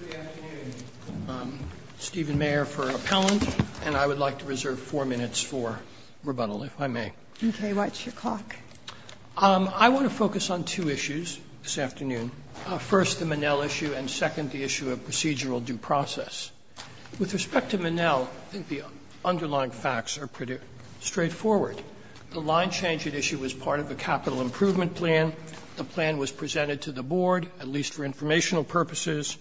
Good afternoon. I'm Stephen Mayer for Appellant, and I would like to reserve four minutes for rebuttal, if I may. Okay, what's your clock? I want to focus on two issues this afternoon. First, the Manel issue, and second, the issue of procedural due process. With respect to Manel, I think the underlying facts are pretty straightforward. The line change at issue was part of a capital improvement plan. The plan was presented to the board, at least for informational purposes.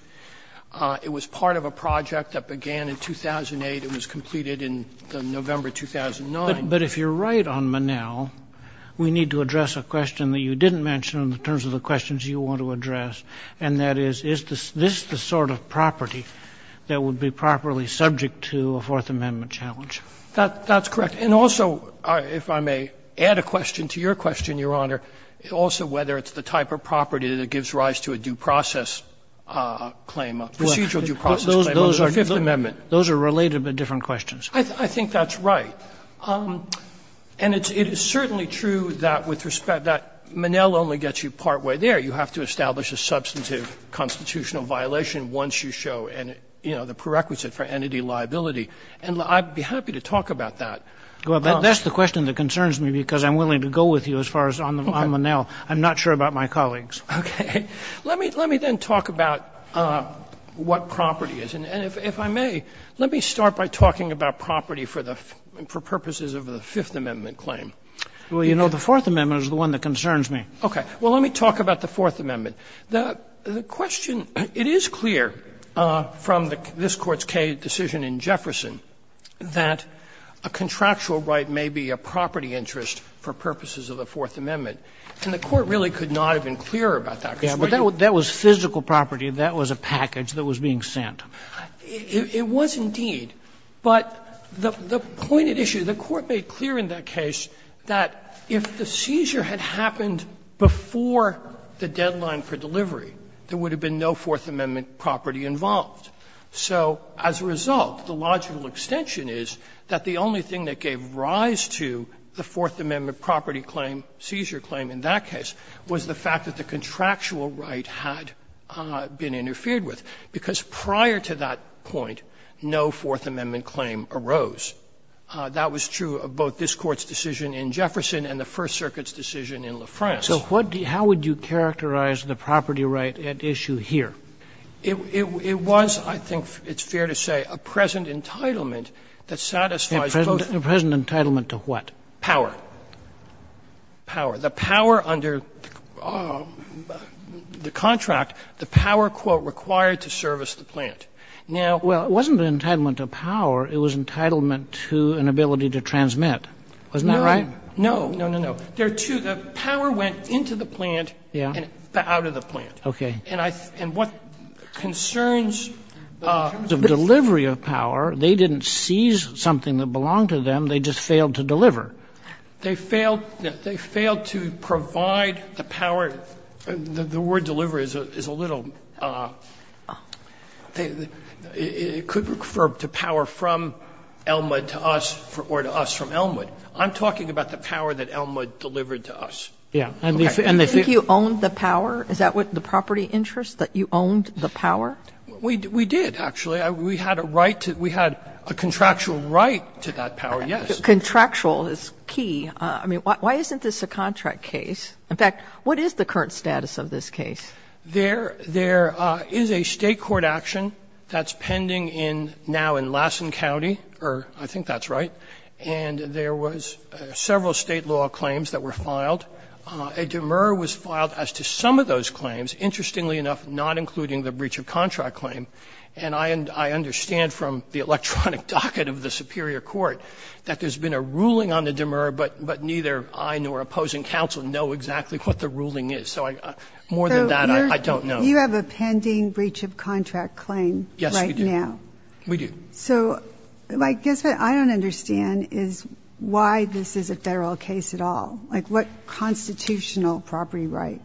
It was part of a project that began in 2008. It was completed in November 2009. But if you're right on Manel, we need to address a question that you didn't mention in terms of the questions you want to address, and that is, is this the sort of property that would be properly subject to a Fourth Amendment challenge? That's correct. And also, if I may add a question to your question, Your Honor, also whether it's the type of property that gives rise to a due process claim, a procedural due process claim under the Fifth Amendment. Those are related, but different questions. I think that's right. And it's certainly true that with respect that Manel only gets you partway there. You have to establish a substantive constitutional violation once you show, you know, the prerequisite for entity liability. And I'd be happy to talk about that. Well, that's the question that concerns me because I'm willing to go with you as far as on Manel. I'm not sure about my colleagues. Okay. Let me then talk about what property is. And if I may, let me start by talking about property for purposes of the Fifth Amendment claim. Well, you know, the Fourth Amendment is the one that concerns me. Well, let me talk about the Fourth Amendment. The question, it is clear from this Court's Kaye decision in Jefferson that a contractual right may be a property interest for purposes of the Fourth Amendment. And the Court really could not have been clearer about that. Yeah, but that was physical property. That was a package that was being sent. It was indeed. But the pointed issue, the Court made clear in that case that if the seizure had happened before the deadline for delivery, there would have been no Fourth Amendment property involved. So as a result, the logical extension is that the only thing that gave rise to the Fourth Amendment property claim, seizure claim in that case, was the fact that the contractual right had been interfered with, because prior to that point, no Fourth Amendment claim arose. That was true of both this Court's decision in Jefferson and the First Circuit's decision in La France. So what do you do, how would you characterize the property right at issue here? It was, I think it's fair to say, a present entitlement that satisfies both. A present entitlement to what? Power. Power. The power under the contract, the power, quote, required to service the plant. Now, well, it wasn't an entitlement to power, it was an entitlement to an ability to transmit. Wasn't that right? No, no, no, no. There are two. The power went into the plant and out of the plant. Okay. And I think what concerns the terms of delivery of power, they didn't seize something that belonged to them, they just failed to deliver. They failed to provide the power. The word deliver is a little – it could refer to power from Elmwood to us or to us from Elmwood. I'm talking about the power that Elmwood delivered to us. Yeah. And they say – Do you think you owned the power? Is that what the property interest, that you owned the power? We did, actually. We had a right to – we had a contractual right to that power, yes. Contractual is key. I mean, why isn't this a contract case? In fact, what is the current status of this case? There is a State court action that's pending in – now in Lassen County, or I think that's right, and there was several State law claims that were filed. A demur was filed as to some of those claims, interestingly enough, not including the breach of contract claim. And I understand from the electronic docket of the Superior Court that there's been a ruling on the demur, but neither I nor opposing counsel know exactly what the ruling is. So more than that, I don't know. So you have a pending breach of contract claim right now? Yes, we do. We do. So I guess what I don't understand is why this is a Federal case at all. Like, what constitutional property right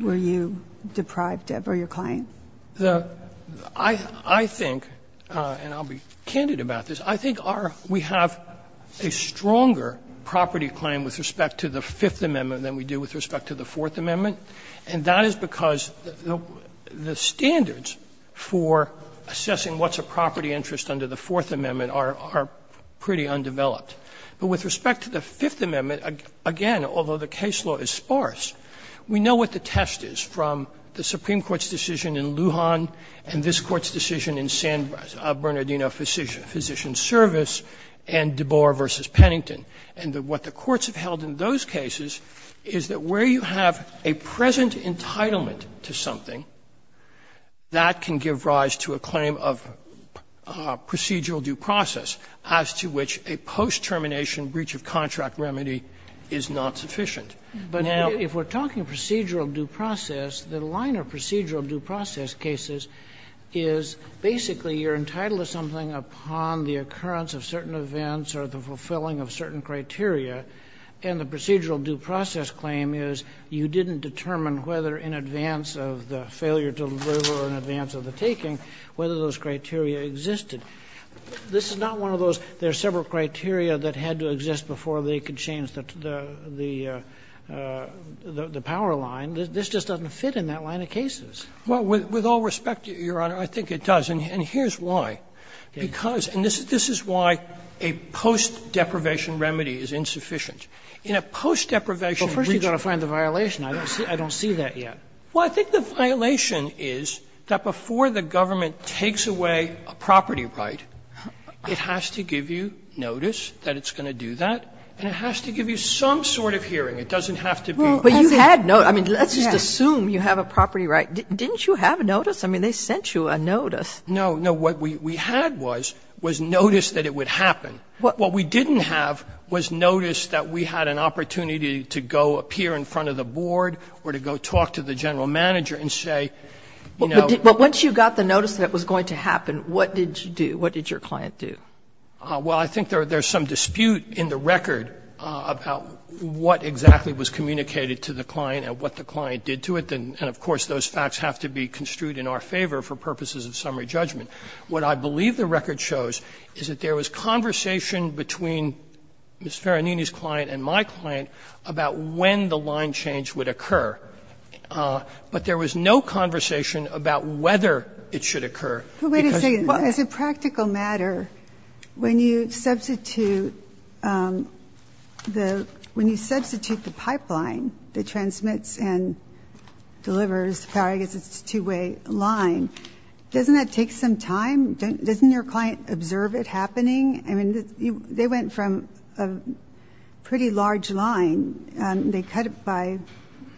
were you deprived of for your claim? I think, and I'll be candid about this, I think our – we have a stronger property claim with respect to the Fifth Amendment than we do with respect to the Fourth Amendment, and that is because the standards for assessing what's a property interest under the Fourth Amendment are pretty undeveloped. But with respect to the Fifth Amendment, again, although the case law is sparse, we know what the test is from the Supreme Court's decision in Lujan and this Court's decision in San Bernardino Physician Service and DeBoer v. Pennington. And what the courts have held in those cases is that where you have a present entitlement to something, that can give rise to a claim of procedural due process as to which a post-termination breach of contract remedy is not sufficient. Now – But if we're talking procedural due process, the line of procedural due process cases is basically you're entitled to something upon the occurrence of certain events or the fulfilling of certain criteria, and the procedural due process claim is you didn't determine whether in advance of the failure to deliver or in advance of the taking, whether those criteria existed. This is not one of those, there are several criteria that had to exist before they could change the power line. This just doesn't fit in that line of cases. Well, with all respect, Your Honor, I think it does. And here's why. Because – and this is why a post-deprivation remedy is insufficient. And I don't understand the violation. I don't see that yet. Well, I think the violation is that before the government takes away a property right, it has to give you notice that it's going to do that, and it has to give you some sort of hearing. It doesn't have to be – Well, but you had no – I mean, let's just assume you have a property right. Didn't you have notice? I mean, they sent you a notice. No, no. What we had was, was notice that it would happen. What we didn't have was notice that we had an opportunity to go appear in front of the board or to go talk to the general manager and say, you know – But once you got the notice that it was going to happen, what did you do? What did your client do? Well, I think there's some dispute in the record about what exactly was communicated to the client and what the client did to it. And of course, those facts have to be construed in our favor for purposes of summary judgment. What I believe the record shows is that there was conversation between Ms. Faranini's client and my client about when the line change would occur. But there was no conversation about whether it should occur. Because – But wait a second. As a practical matter, when you substitute the – when you substitute the pipeline that transmits and delivers power, I guess it's a two-way line, doesn't that take some time? Doesn't your client observe it happening? I mean, they went from a pretty large line. They cut it by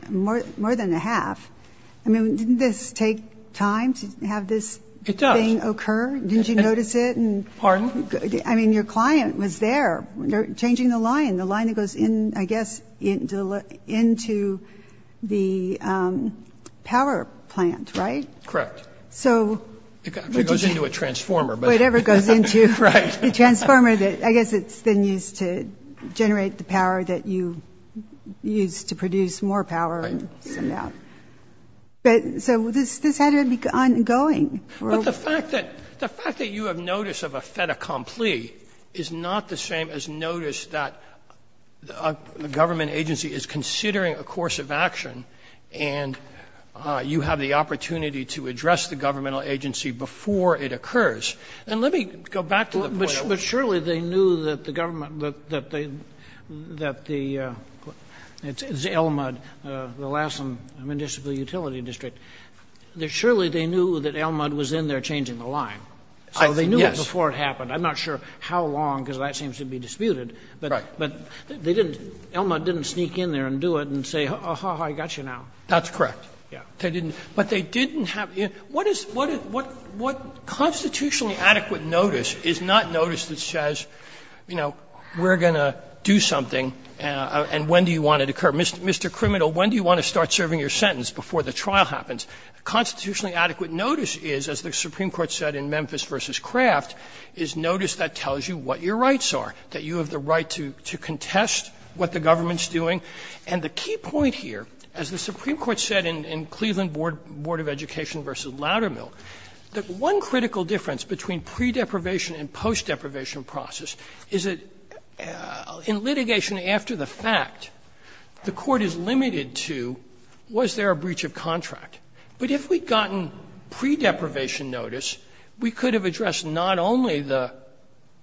more than a half. I mean, didn't this take time to have this thing occur? Didn't you notice it? Pardon? I mean, your client was there changing the line, the line that goes in, I guess, into the power plant, right? Correct. So – It goes into a transformer, but – Whatever goes into the transformer, I guess it's then used to generate the power that you use to produce more power and send out. Right. But so this had to be ongoing. But the fact that you have notice of a fait accompli is not the same as notice that a government agency is considering a course of action and you have the opportunity to address the governmental agency before it occurs. And let me go back to the point I was making. But surely they knew that the government – that the – it's ELMUD, the Alaskan Municipal Utility District. Surely they knew that ELMUD was in there changing the line. So they knew it before it happened. I'm not sure how long, because that seems to be disputed, but they didn't – ELMUD didn't sneak in there and do it and say, oh, I got you now. That's correct. Yeah. They didn't – but they didn't have – what is – what constitutionally adequate notice is not notice that says, you know, we're going to do something and when do you want it to occur. Mr. Criminal, when do you want to start serving your sentence before the trial happens? Constitutionally adequate notice is, as the Supreme Court said in Memphis v. Kraft, is notice that tells you what your rights are, that you have the right to contest what the government's doing. And the key point here, as the Supreme Court said in Cleveland Board of Education v. Loudermill, that one critical difference between pre-deprivation and post-deprivation process is that in litigation after the fact, the court is limited to was there a breach of contract. But if we'd gotten pre-deprivation notice, we could have addressed not only the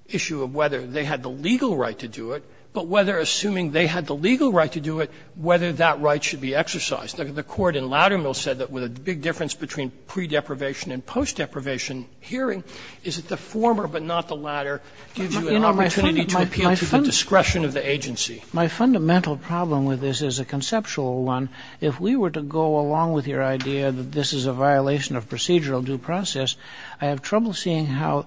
issue of whether they had the legal right to do it, but whether assuming they had the legal right to do it, whether that right should be exercised. The court in Loudermill said that the big difference between pre-deprivation and post-deprivation hearing is that the former but not the latter gives you an opportunity to appeal to the discretion of the agency. My fundamental problem with this is a conceptual one. If we were to go along with your idea that this is a violation of procedural due process, I have trouble seeing how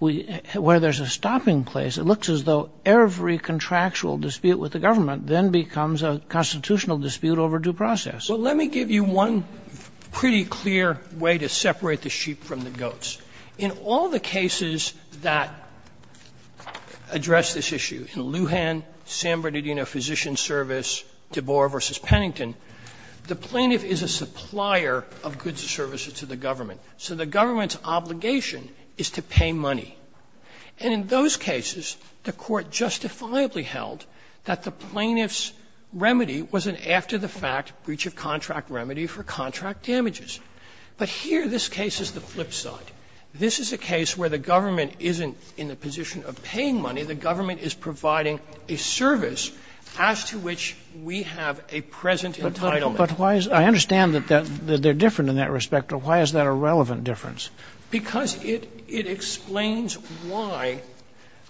we – where there's a stopping place. It looks as though every contractual dispute with the government then becomes a constitutional dispute over due process. Sotomayor Well, let me give you one pretty clear way to separate the sheep from the goats. In all the cases that address this issue, in Lujan, San Bernardino Physician Service, DeBoer v. Pennington, the plaintiff is a supplier of goods and services to the government. So the government's obligation is to pay money. And in those cases, the court justifiably held that the plaintiff's remedy was an after-the-fact breach-of-contract remedy for contract damages. But here, this case is the flip side. This is a case where the government isn't in the position of paying money. The government is providing a service as to which we have a present entitlement. Robertson But why is – I understand that they're different in that respect, but why is that a relevant difference? Because it explains why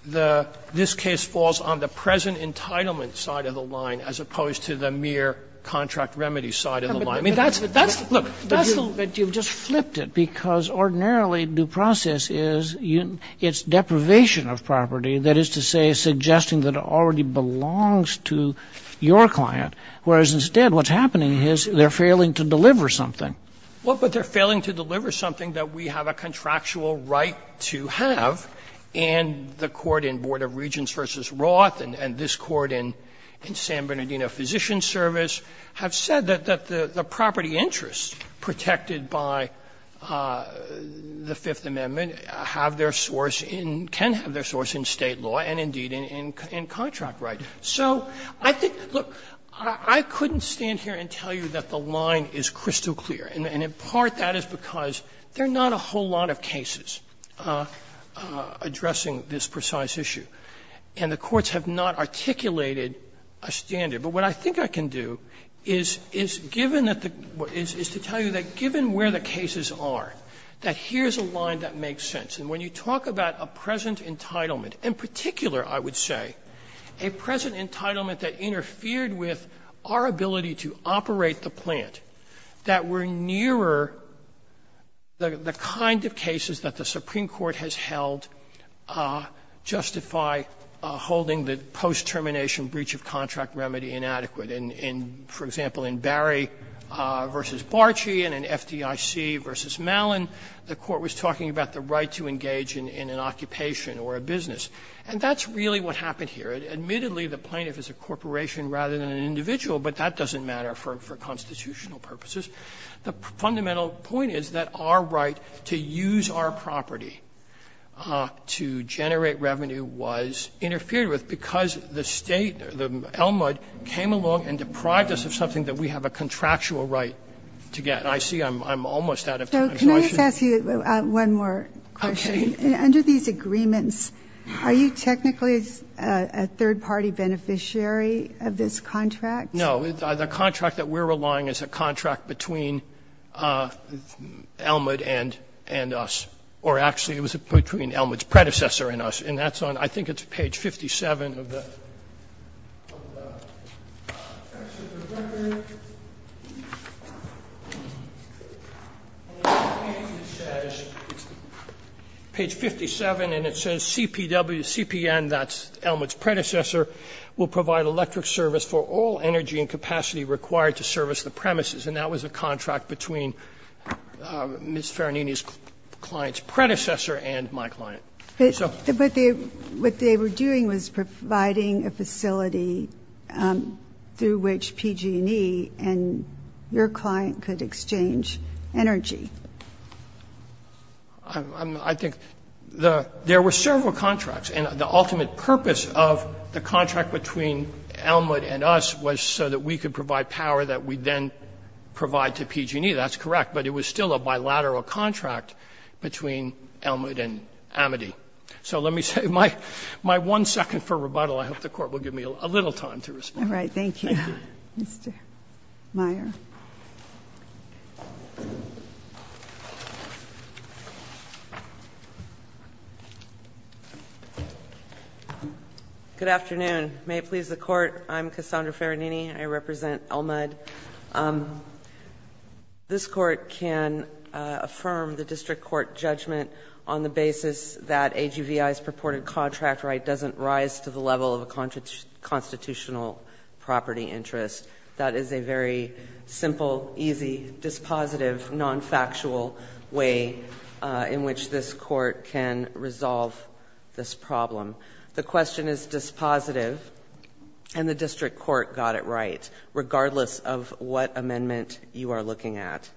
the – this case falls on the present entitlement side of the line as opposed to the mere contract remedy side of the line. I mean, that's – look, that's the – but you've just flipped it because ordinarily due process is – it's deprivation of property, that is to say, suggesting that it already belongs to your client, whereas instead what's happening is they're failing to deliver something. Well, but they're failing to deliver something that we have a contractual right to have, and the court in Board of Regents v. Roth and this court in San Bernardino Physician Service have said that the property interests protected by the Fifth Amendment have their source in – can have their source in State law and, indeed, in contract right. So I think – look, I couldn't stand here and tell you that the line is crystal clear, and in part that is because there are not a whole lot of cases addressing this precise issue, and the courts have not articulated a standard. But what I think I can do is – is given that the – is to tell you that given where the cases are, that here's a line that makes sense. And when you talk about a present entitlement, in particular, I would say, a present entitlement that interfered with our ability to operate the plant, that were nearer the kind of cases that the Supreme Court has held justify holding the post-termination breach of contract remedy inadequate. In, for example, in Barry v. Barchi and in FDIC v. Mallon, the court was talking about the right to engage in an occupation or a business. And that's really what happened here. Admittedly, the plaintiff is a corporation rather than an individual, but that doesn't matter for constitutional purposes. The fundamental point is that our right to use our property to generate revenue was interfered with because the State, the LMUD, came along and deprived us of something that we have a contractual right to get. And I see I'm almost out of time. So I should – Ginsburg. So can I just ask you one more question? Okay. Under these agreements, are you technically a third-party beneficiary of this contract? No. The contract that we're relying is a contract between LMUD and us, or actually it was between LMUD's predecessor and us, and that's on, I think it's page 57 of the record. And it basically says, page 57, and it says CPW, CPN, that's LMUD's predecessor, will provide electric service for all energy and capacity required to service the premises. And that was a contract between Ms. Faranini's client's predecessor and my client. But what they were doing was providing a facility through which PG&E and your client could exchange energy. I think the – there were several contracts, and the ultimate purpose of the contract between LMUD and us was so that we could provide power that we then provide to PG&E. That's correct, but it was still a bilateral contract between LMUD and Amity. So let me save my one second for rebuttal. I hope the Court will give me a little time to respond. All right. Thank you, Mr. Meyer. Good afternoon. May it please the Court. I'm Cassandra Faranini. I represent LMUD. This Court can affirm the district court judgment on the basis that AGVI's purported contract right doesn't rise to the level of a constitutional property interest. That is a very simple, easy, dispositive, nonfactual way in which this Court can resolve this problem. The question is dispositive, and the district court got it right, regardless of what amendment you are looking at.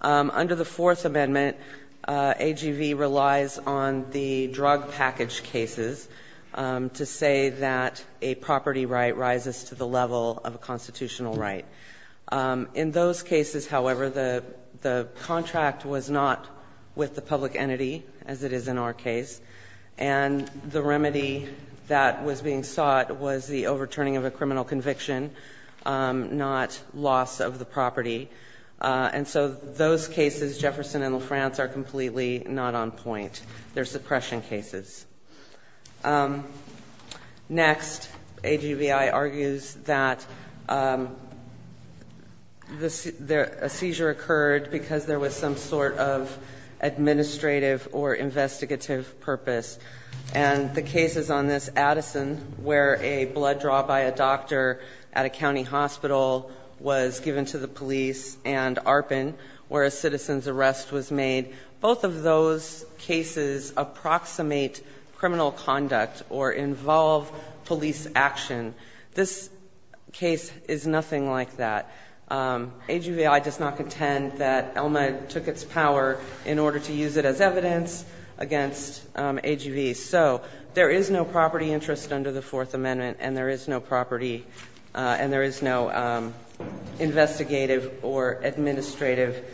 Under the Fourth Amendment, AGV relies on the drug package cases to say that a property right rises to the level of a constitutional right. In those cases, however, the contract was not with the public entity, as it is in our case. The remedy that was being sought was the overturning of a criminal conviction, not loss of the property. And so those cases, Jefferson and LaFrance, are completely not on point. They are suppression cases. Next, AGVI argues that a seizure occurred because there was some sort of administrative or investigative purpose. And the cases on this, Addison, where a blood draw by a doctor at a county hospital was given to the police, and Arpin, where a citizen's arrest was made, both of those cases approximate criminal conduct or involve police action. This case is nothing like that. AGVI does not contend that Elma took its power in order to use it as evidence against AGV. So there is no property interest under the Fourth Amendment, and there is no property and there is no investigative or administrative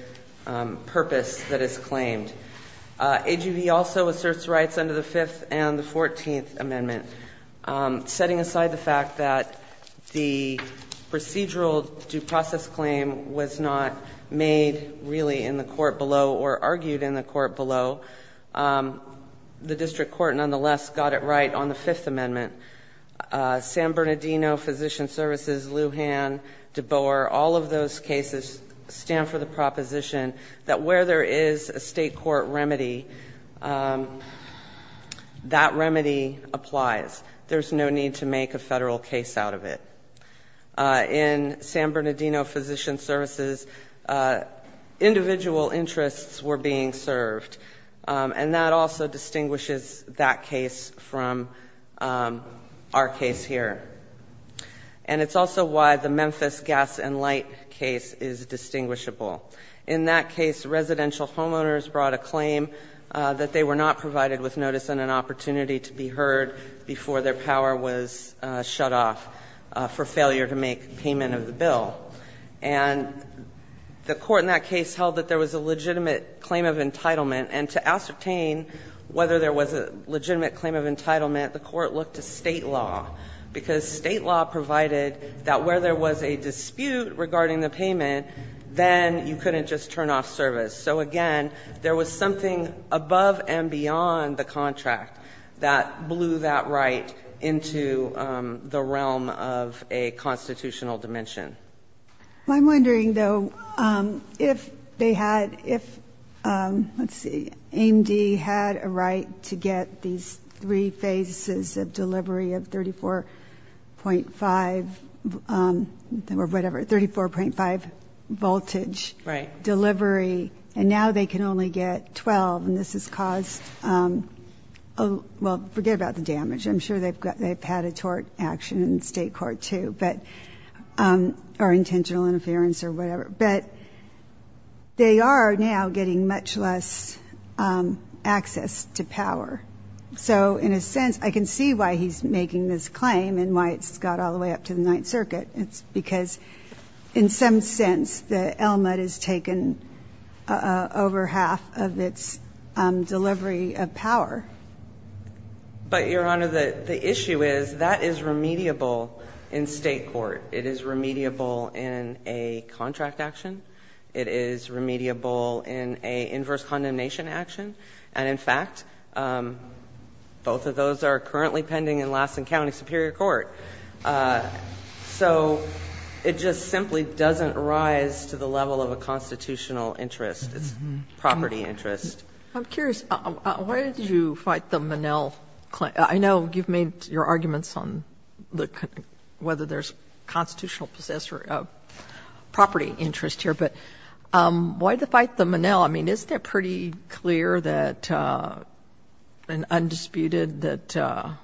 purpose that is claimed. AGV also asserts rights under the Fifth and the Fourteenth Amendment, setting aside the fact that the procedural due process claim was not made, really, in the court below. The district court, nonetheless, got it right on the Fifth Amendment. San Bernardino Physician Services, Lujan, DeBoer, all of those cases stand for the proposition that where there is a State court remedy, that remedy applies. There's no need to make a Federal case out of it. In San Bernardino Physician Services, individual interests were being served. And that also distinguishes that case from our case here. And it's also why the Memphis gas and light case is distinguishable. In that case, residential homeowners brought a claim that they were not provided with notice and an opportunity to be heard before their power was shut off for failure to make payment of the bill. And the court in that case held that there was a legitimate claim of entitlement. And to ascertain whether there was a legitimate claim of entitlement, the court looked to State law, because State law provided that where there was a dispute regarding the payment, then you couldn't just turn off service. So again, there was something above and beyond the contract that blew that right into the realm of a constitutional dimension. I'm wondering though, if they had, if, let's see, AMD had a right to get these three phases of delivery of 34.5, or whatever, 34.5 voltage. Right. Delivery, and now they can only get 12, and this has caused, well, forget about the damage. I'm sure they've had a tort action in state court too, or intentional interference or whatever. But they are now getting much less access to power. So in a sense, I can see why he's making this claim and why it's got all the way up to the Ninth Circuit. It's because in some sense, the LMUD has taken over half of its delivery of power. But Your Honor, the issue is that is remediable in state court. It is remediable in a contract action. It is remediable in a inverse condemnation action. And in fact, both of those are currently pending in Lassen County Superior Court. So it just simply doesn't rise to the level of a constitutional interest. It's property interest. I'm curious, why did you fight the Monell claim? I know you've made your arguments on whether there's constitutional possessor of property interest here, but why the fight the Monell? The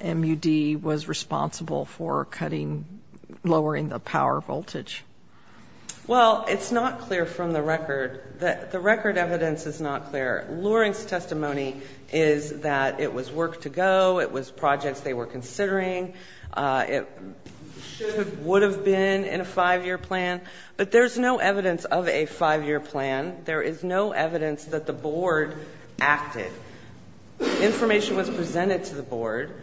LMUD was responsible for cutting, lowering the power voltage. Well, it's not clear from the record, the record evidence is not clear. Loring's testimony is that it was work to go, it was projects they were considering. It should have, would have been in a five year plan. But there's no evidence of a five year plan. There is no evidence that the board acted. Information was presented to the board,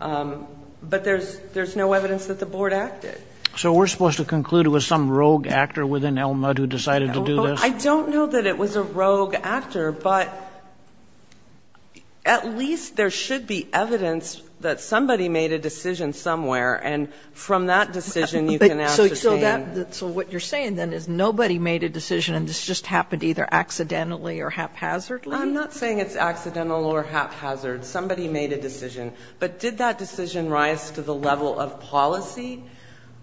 but there's no evidence that the board acted. So we're supposed to conclude it was some rogue actor within LMUD who decided to do this? I don't know that it was a rogue actor, but at least there should be evidence that somebody made a decision somewhere, and from that decision you can ask the same. So what you're saying then is nobody made a decision and this just happened either accidentally or haphazardly? I'm not saying it's accidental or haphazard. Somebody made a decision. But did that decision rise to the level of policy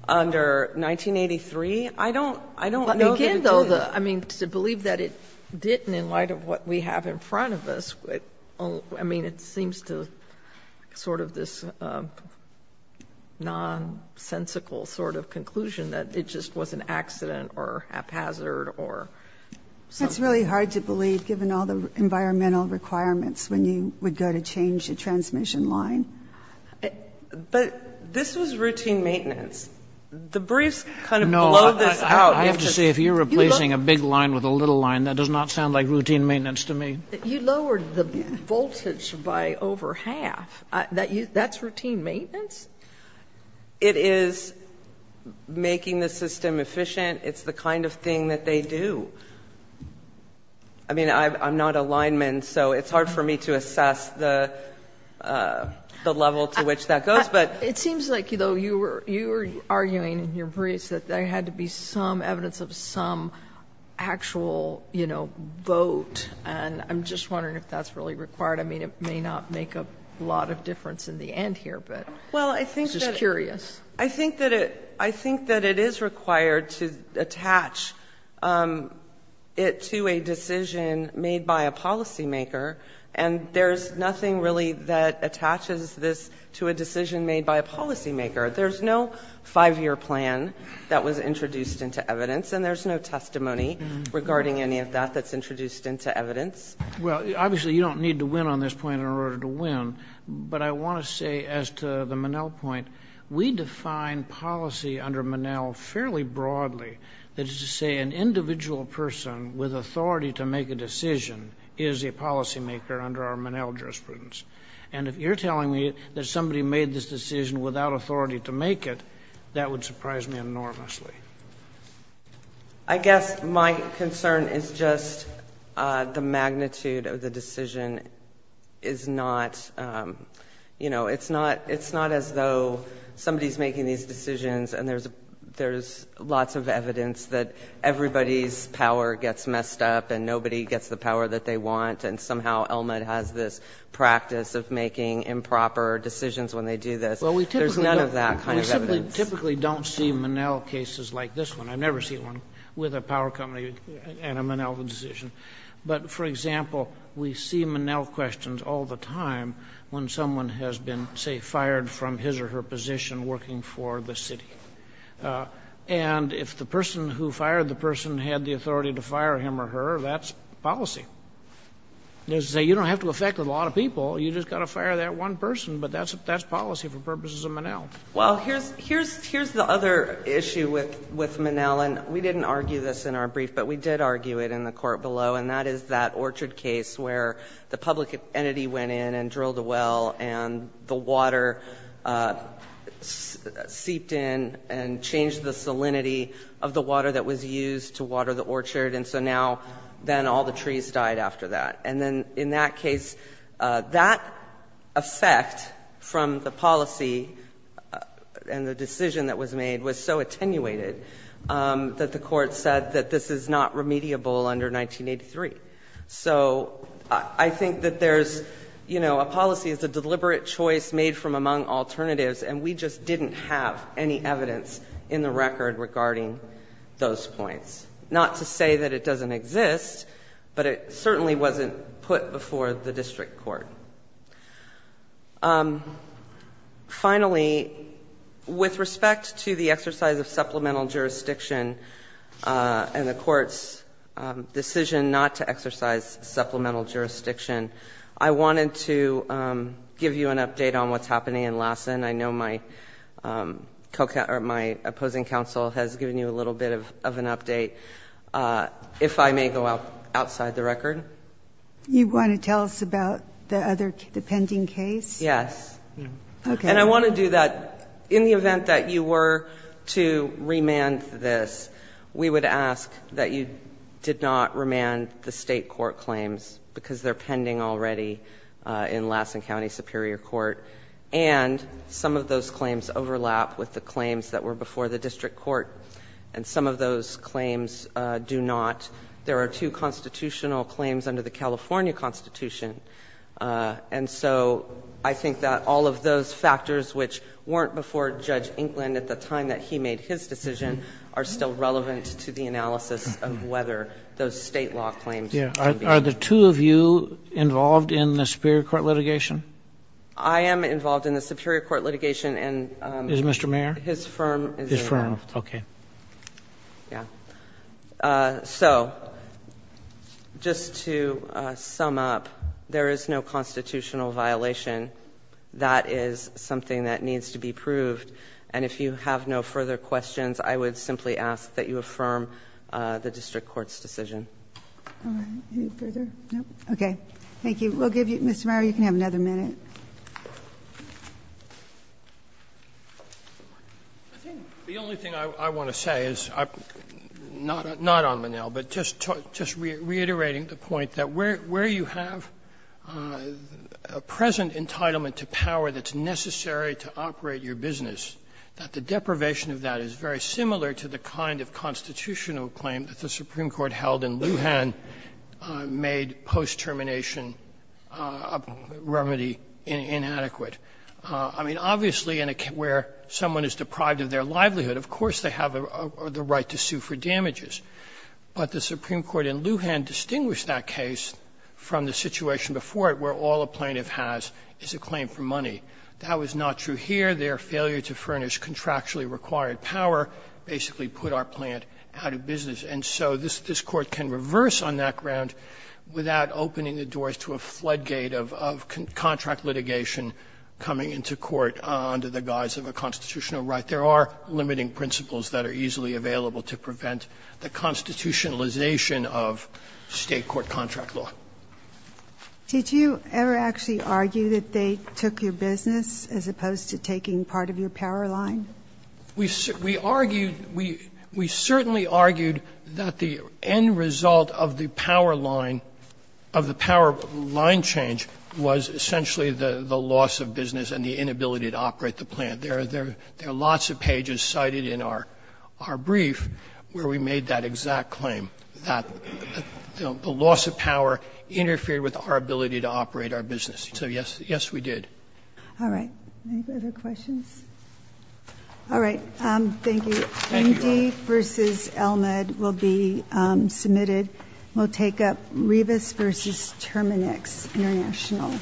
under 1983? I don't know that it did. But again, though, I mean, to believe that it didn't in light of what we have in front of us, I mean, it seems to sort of this nonsensical sort of conclusion that it just was an accident or haphazard or something. It's really hard to believe given all the environmental requirements when you would go to change a transmission line. But this was routine maintenance. The briefs kind of blow this out. I have to say, if you're replacing a big line with a little line, that does not sound like routine maintenance to me. You lowered the voltage by over half. That's routine maintenance? It is making the system efficient. It's the kind of thing that they do. I mean, I'm not a lineman, so it's hard for me to assess the level to which that goes. But it seems like, though, you were arguing in your briefs that there had to be some evidence of some actual, you know, vote. And I'm just wondering if that's really required. I mean, it may not make a lot of difference in the end here, but I'm just curious. I think that it is required to attach it to a decision made by a policymaker, and there's nothing really that attaches this to a decision made by a policymaker. There's no five-year plan that was introduced into evidence, and there's no testimony regarding any of that that's introduced into evidence. Well, obviously, you don't need to win on this point in order to win. But I want to say, as to the Monell point, we define policy under Monell fairly broadly. That is to say, an individual person with authority to make a decision is a policymaker under our Monell jurisprudence. And if you're telling me that somebody made this decision without authority to make it, that would surprise me enormously. I guess my concern is just the magnitude of the decision is not, you know, it's not as though somebody's making these decisions and there's lots of evidence that everybody's power gets messed up and nobody gets the power that they want, and somehow Elmend has this practice of making improper decisions when they do this. There's none of that kind of evidence. I typically don't see Monell cases like this one. I've never seen one with a power company and a Monell decision. But, for example, we see Monell questions all the time when someone has been, say, fired from his or her position working for the city. And if the person who fired the person had the authority to fire him or her, that's policy. You don't have to affect a lot of people. You've just got to fire that one person. But that's policy for purposes of Monell. Well, here's the other issue with Monell, and we didn't argue this in our brief, but we did argue it in the court below, and that is that orchard case where the public entity went in and drilled a well and the water seeped in and changed the salinity of the water that was used to water the orchard, and so now then all the trees died after that. And then in that case, that effect from the policy and the decision that was made was so attenuated that the Court said that this is not remediable under 1983. So I think that there's, you know, a policy is a deliberate choice made from among alternatives, and we just didn't have any evidence in the record regarding those points. Not to say that it doesn't exist, but it certainly wasn't put before the district court. Finally, with respect to the exercise of supplemental jurisdiction and the Court's decision not to exercise supplemental jurisdiction, I wanted to give you an update on what's happening in Lassen. I know my opposing counsel has given you a little bit of an update. If I may go outside the record. You want to tell us about the pending case? Yes. And I want to do that in the event that you were to remand this, we would ask that you did not remand the state court claims because they're pending already in Lassen County Superior Court, and some of those claims overlap with the claims that were before the district court, and some of those claims do not. There are two constitutional claims under the California Constitution, and so I think that all of those factors which weren't before Judge Inkland at the time that he made his decision are still relevant to the analysis of whether those state law claims can be. Are the two of you involved in the Superior Court litigation? I am involved in the Superior Court litigation, and his firm is involved. So just to sum up, there is no constitutional violation. That is something that needs to be proved, and if you have no further questions, I would simply ask that you affirm the district court's decision. All right. Any further? No? Okay. Thank you. We'll give you Mr. Meyer, you can have another minute. I think the only thing I want to say is, not on Monell, but just reiterating the point that where you have a present entitlement to power that's necessary to operate your business, that the deprivation of that is very similar to the kind of constitutional claim that the Supreme Court held in Lujan made post-termination remedy inadequate. I mean, obviously, where someone is deprived of their livelihood, of course they have the right to sue for damages. But the Supreme Court in Lujan distinguished that case from the situation before it where all a plaintiff has is a claim for money. That was not true here. There, failure to furnish contractually required power basically put our plant out of business. And so this Court can reverse on that ground without opening the doors to a floodgate of contract litigation coming into court under the guise of a constitutional right. There are limiting principles that are easily available to prevent the constitutionalization of State court contract law. Did you ever actually argue that they took your business as opposed to taking part of your power line? We argued, we certainly argued that the end result of the power line, of the power line change was essentially the loss of business and the inability to operate the plant. There are lots of pages cited in our brief where we made that exact claim, that the loss of power interfered with our ability to operate our business. So, yes, yes, we did. All right. Any other questions? Thank you. Thank you, Your Honor. Indy v. Elmed will be submitted. We'll take up Rivas v. Terminex International.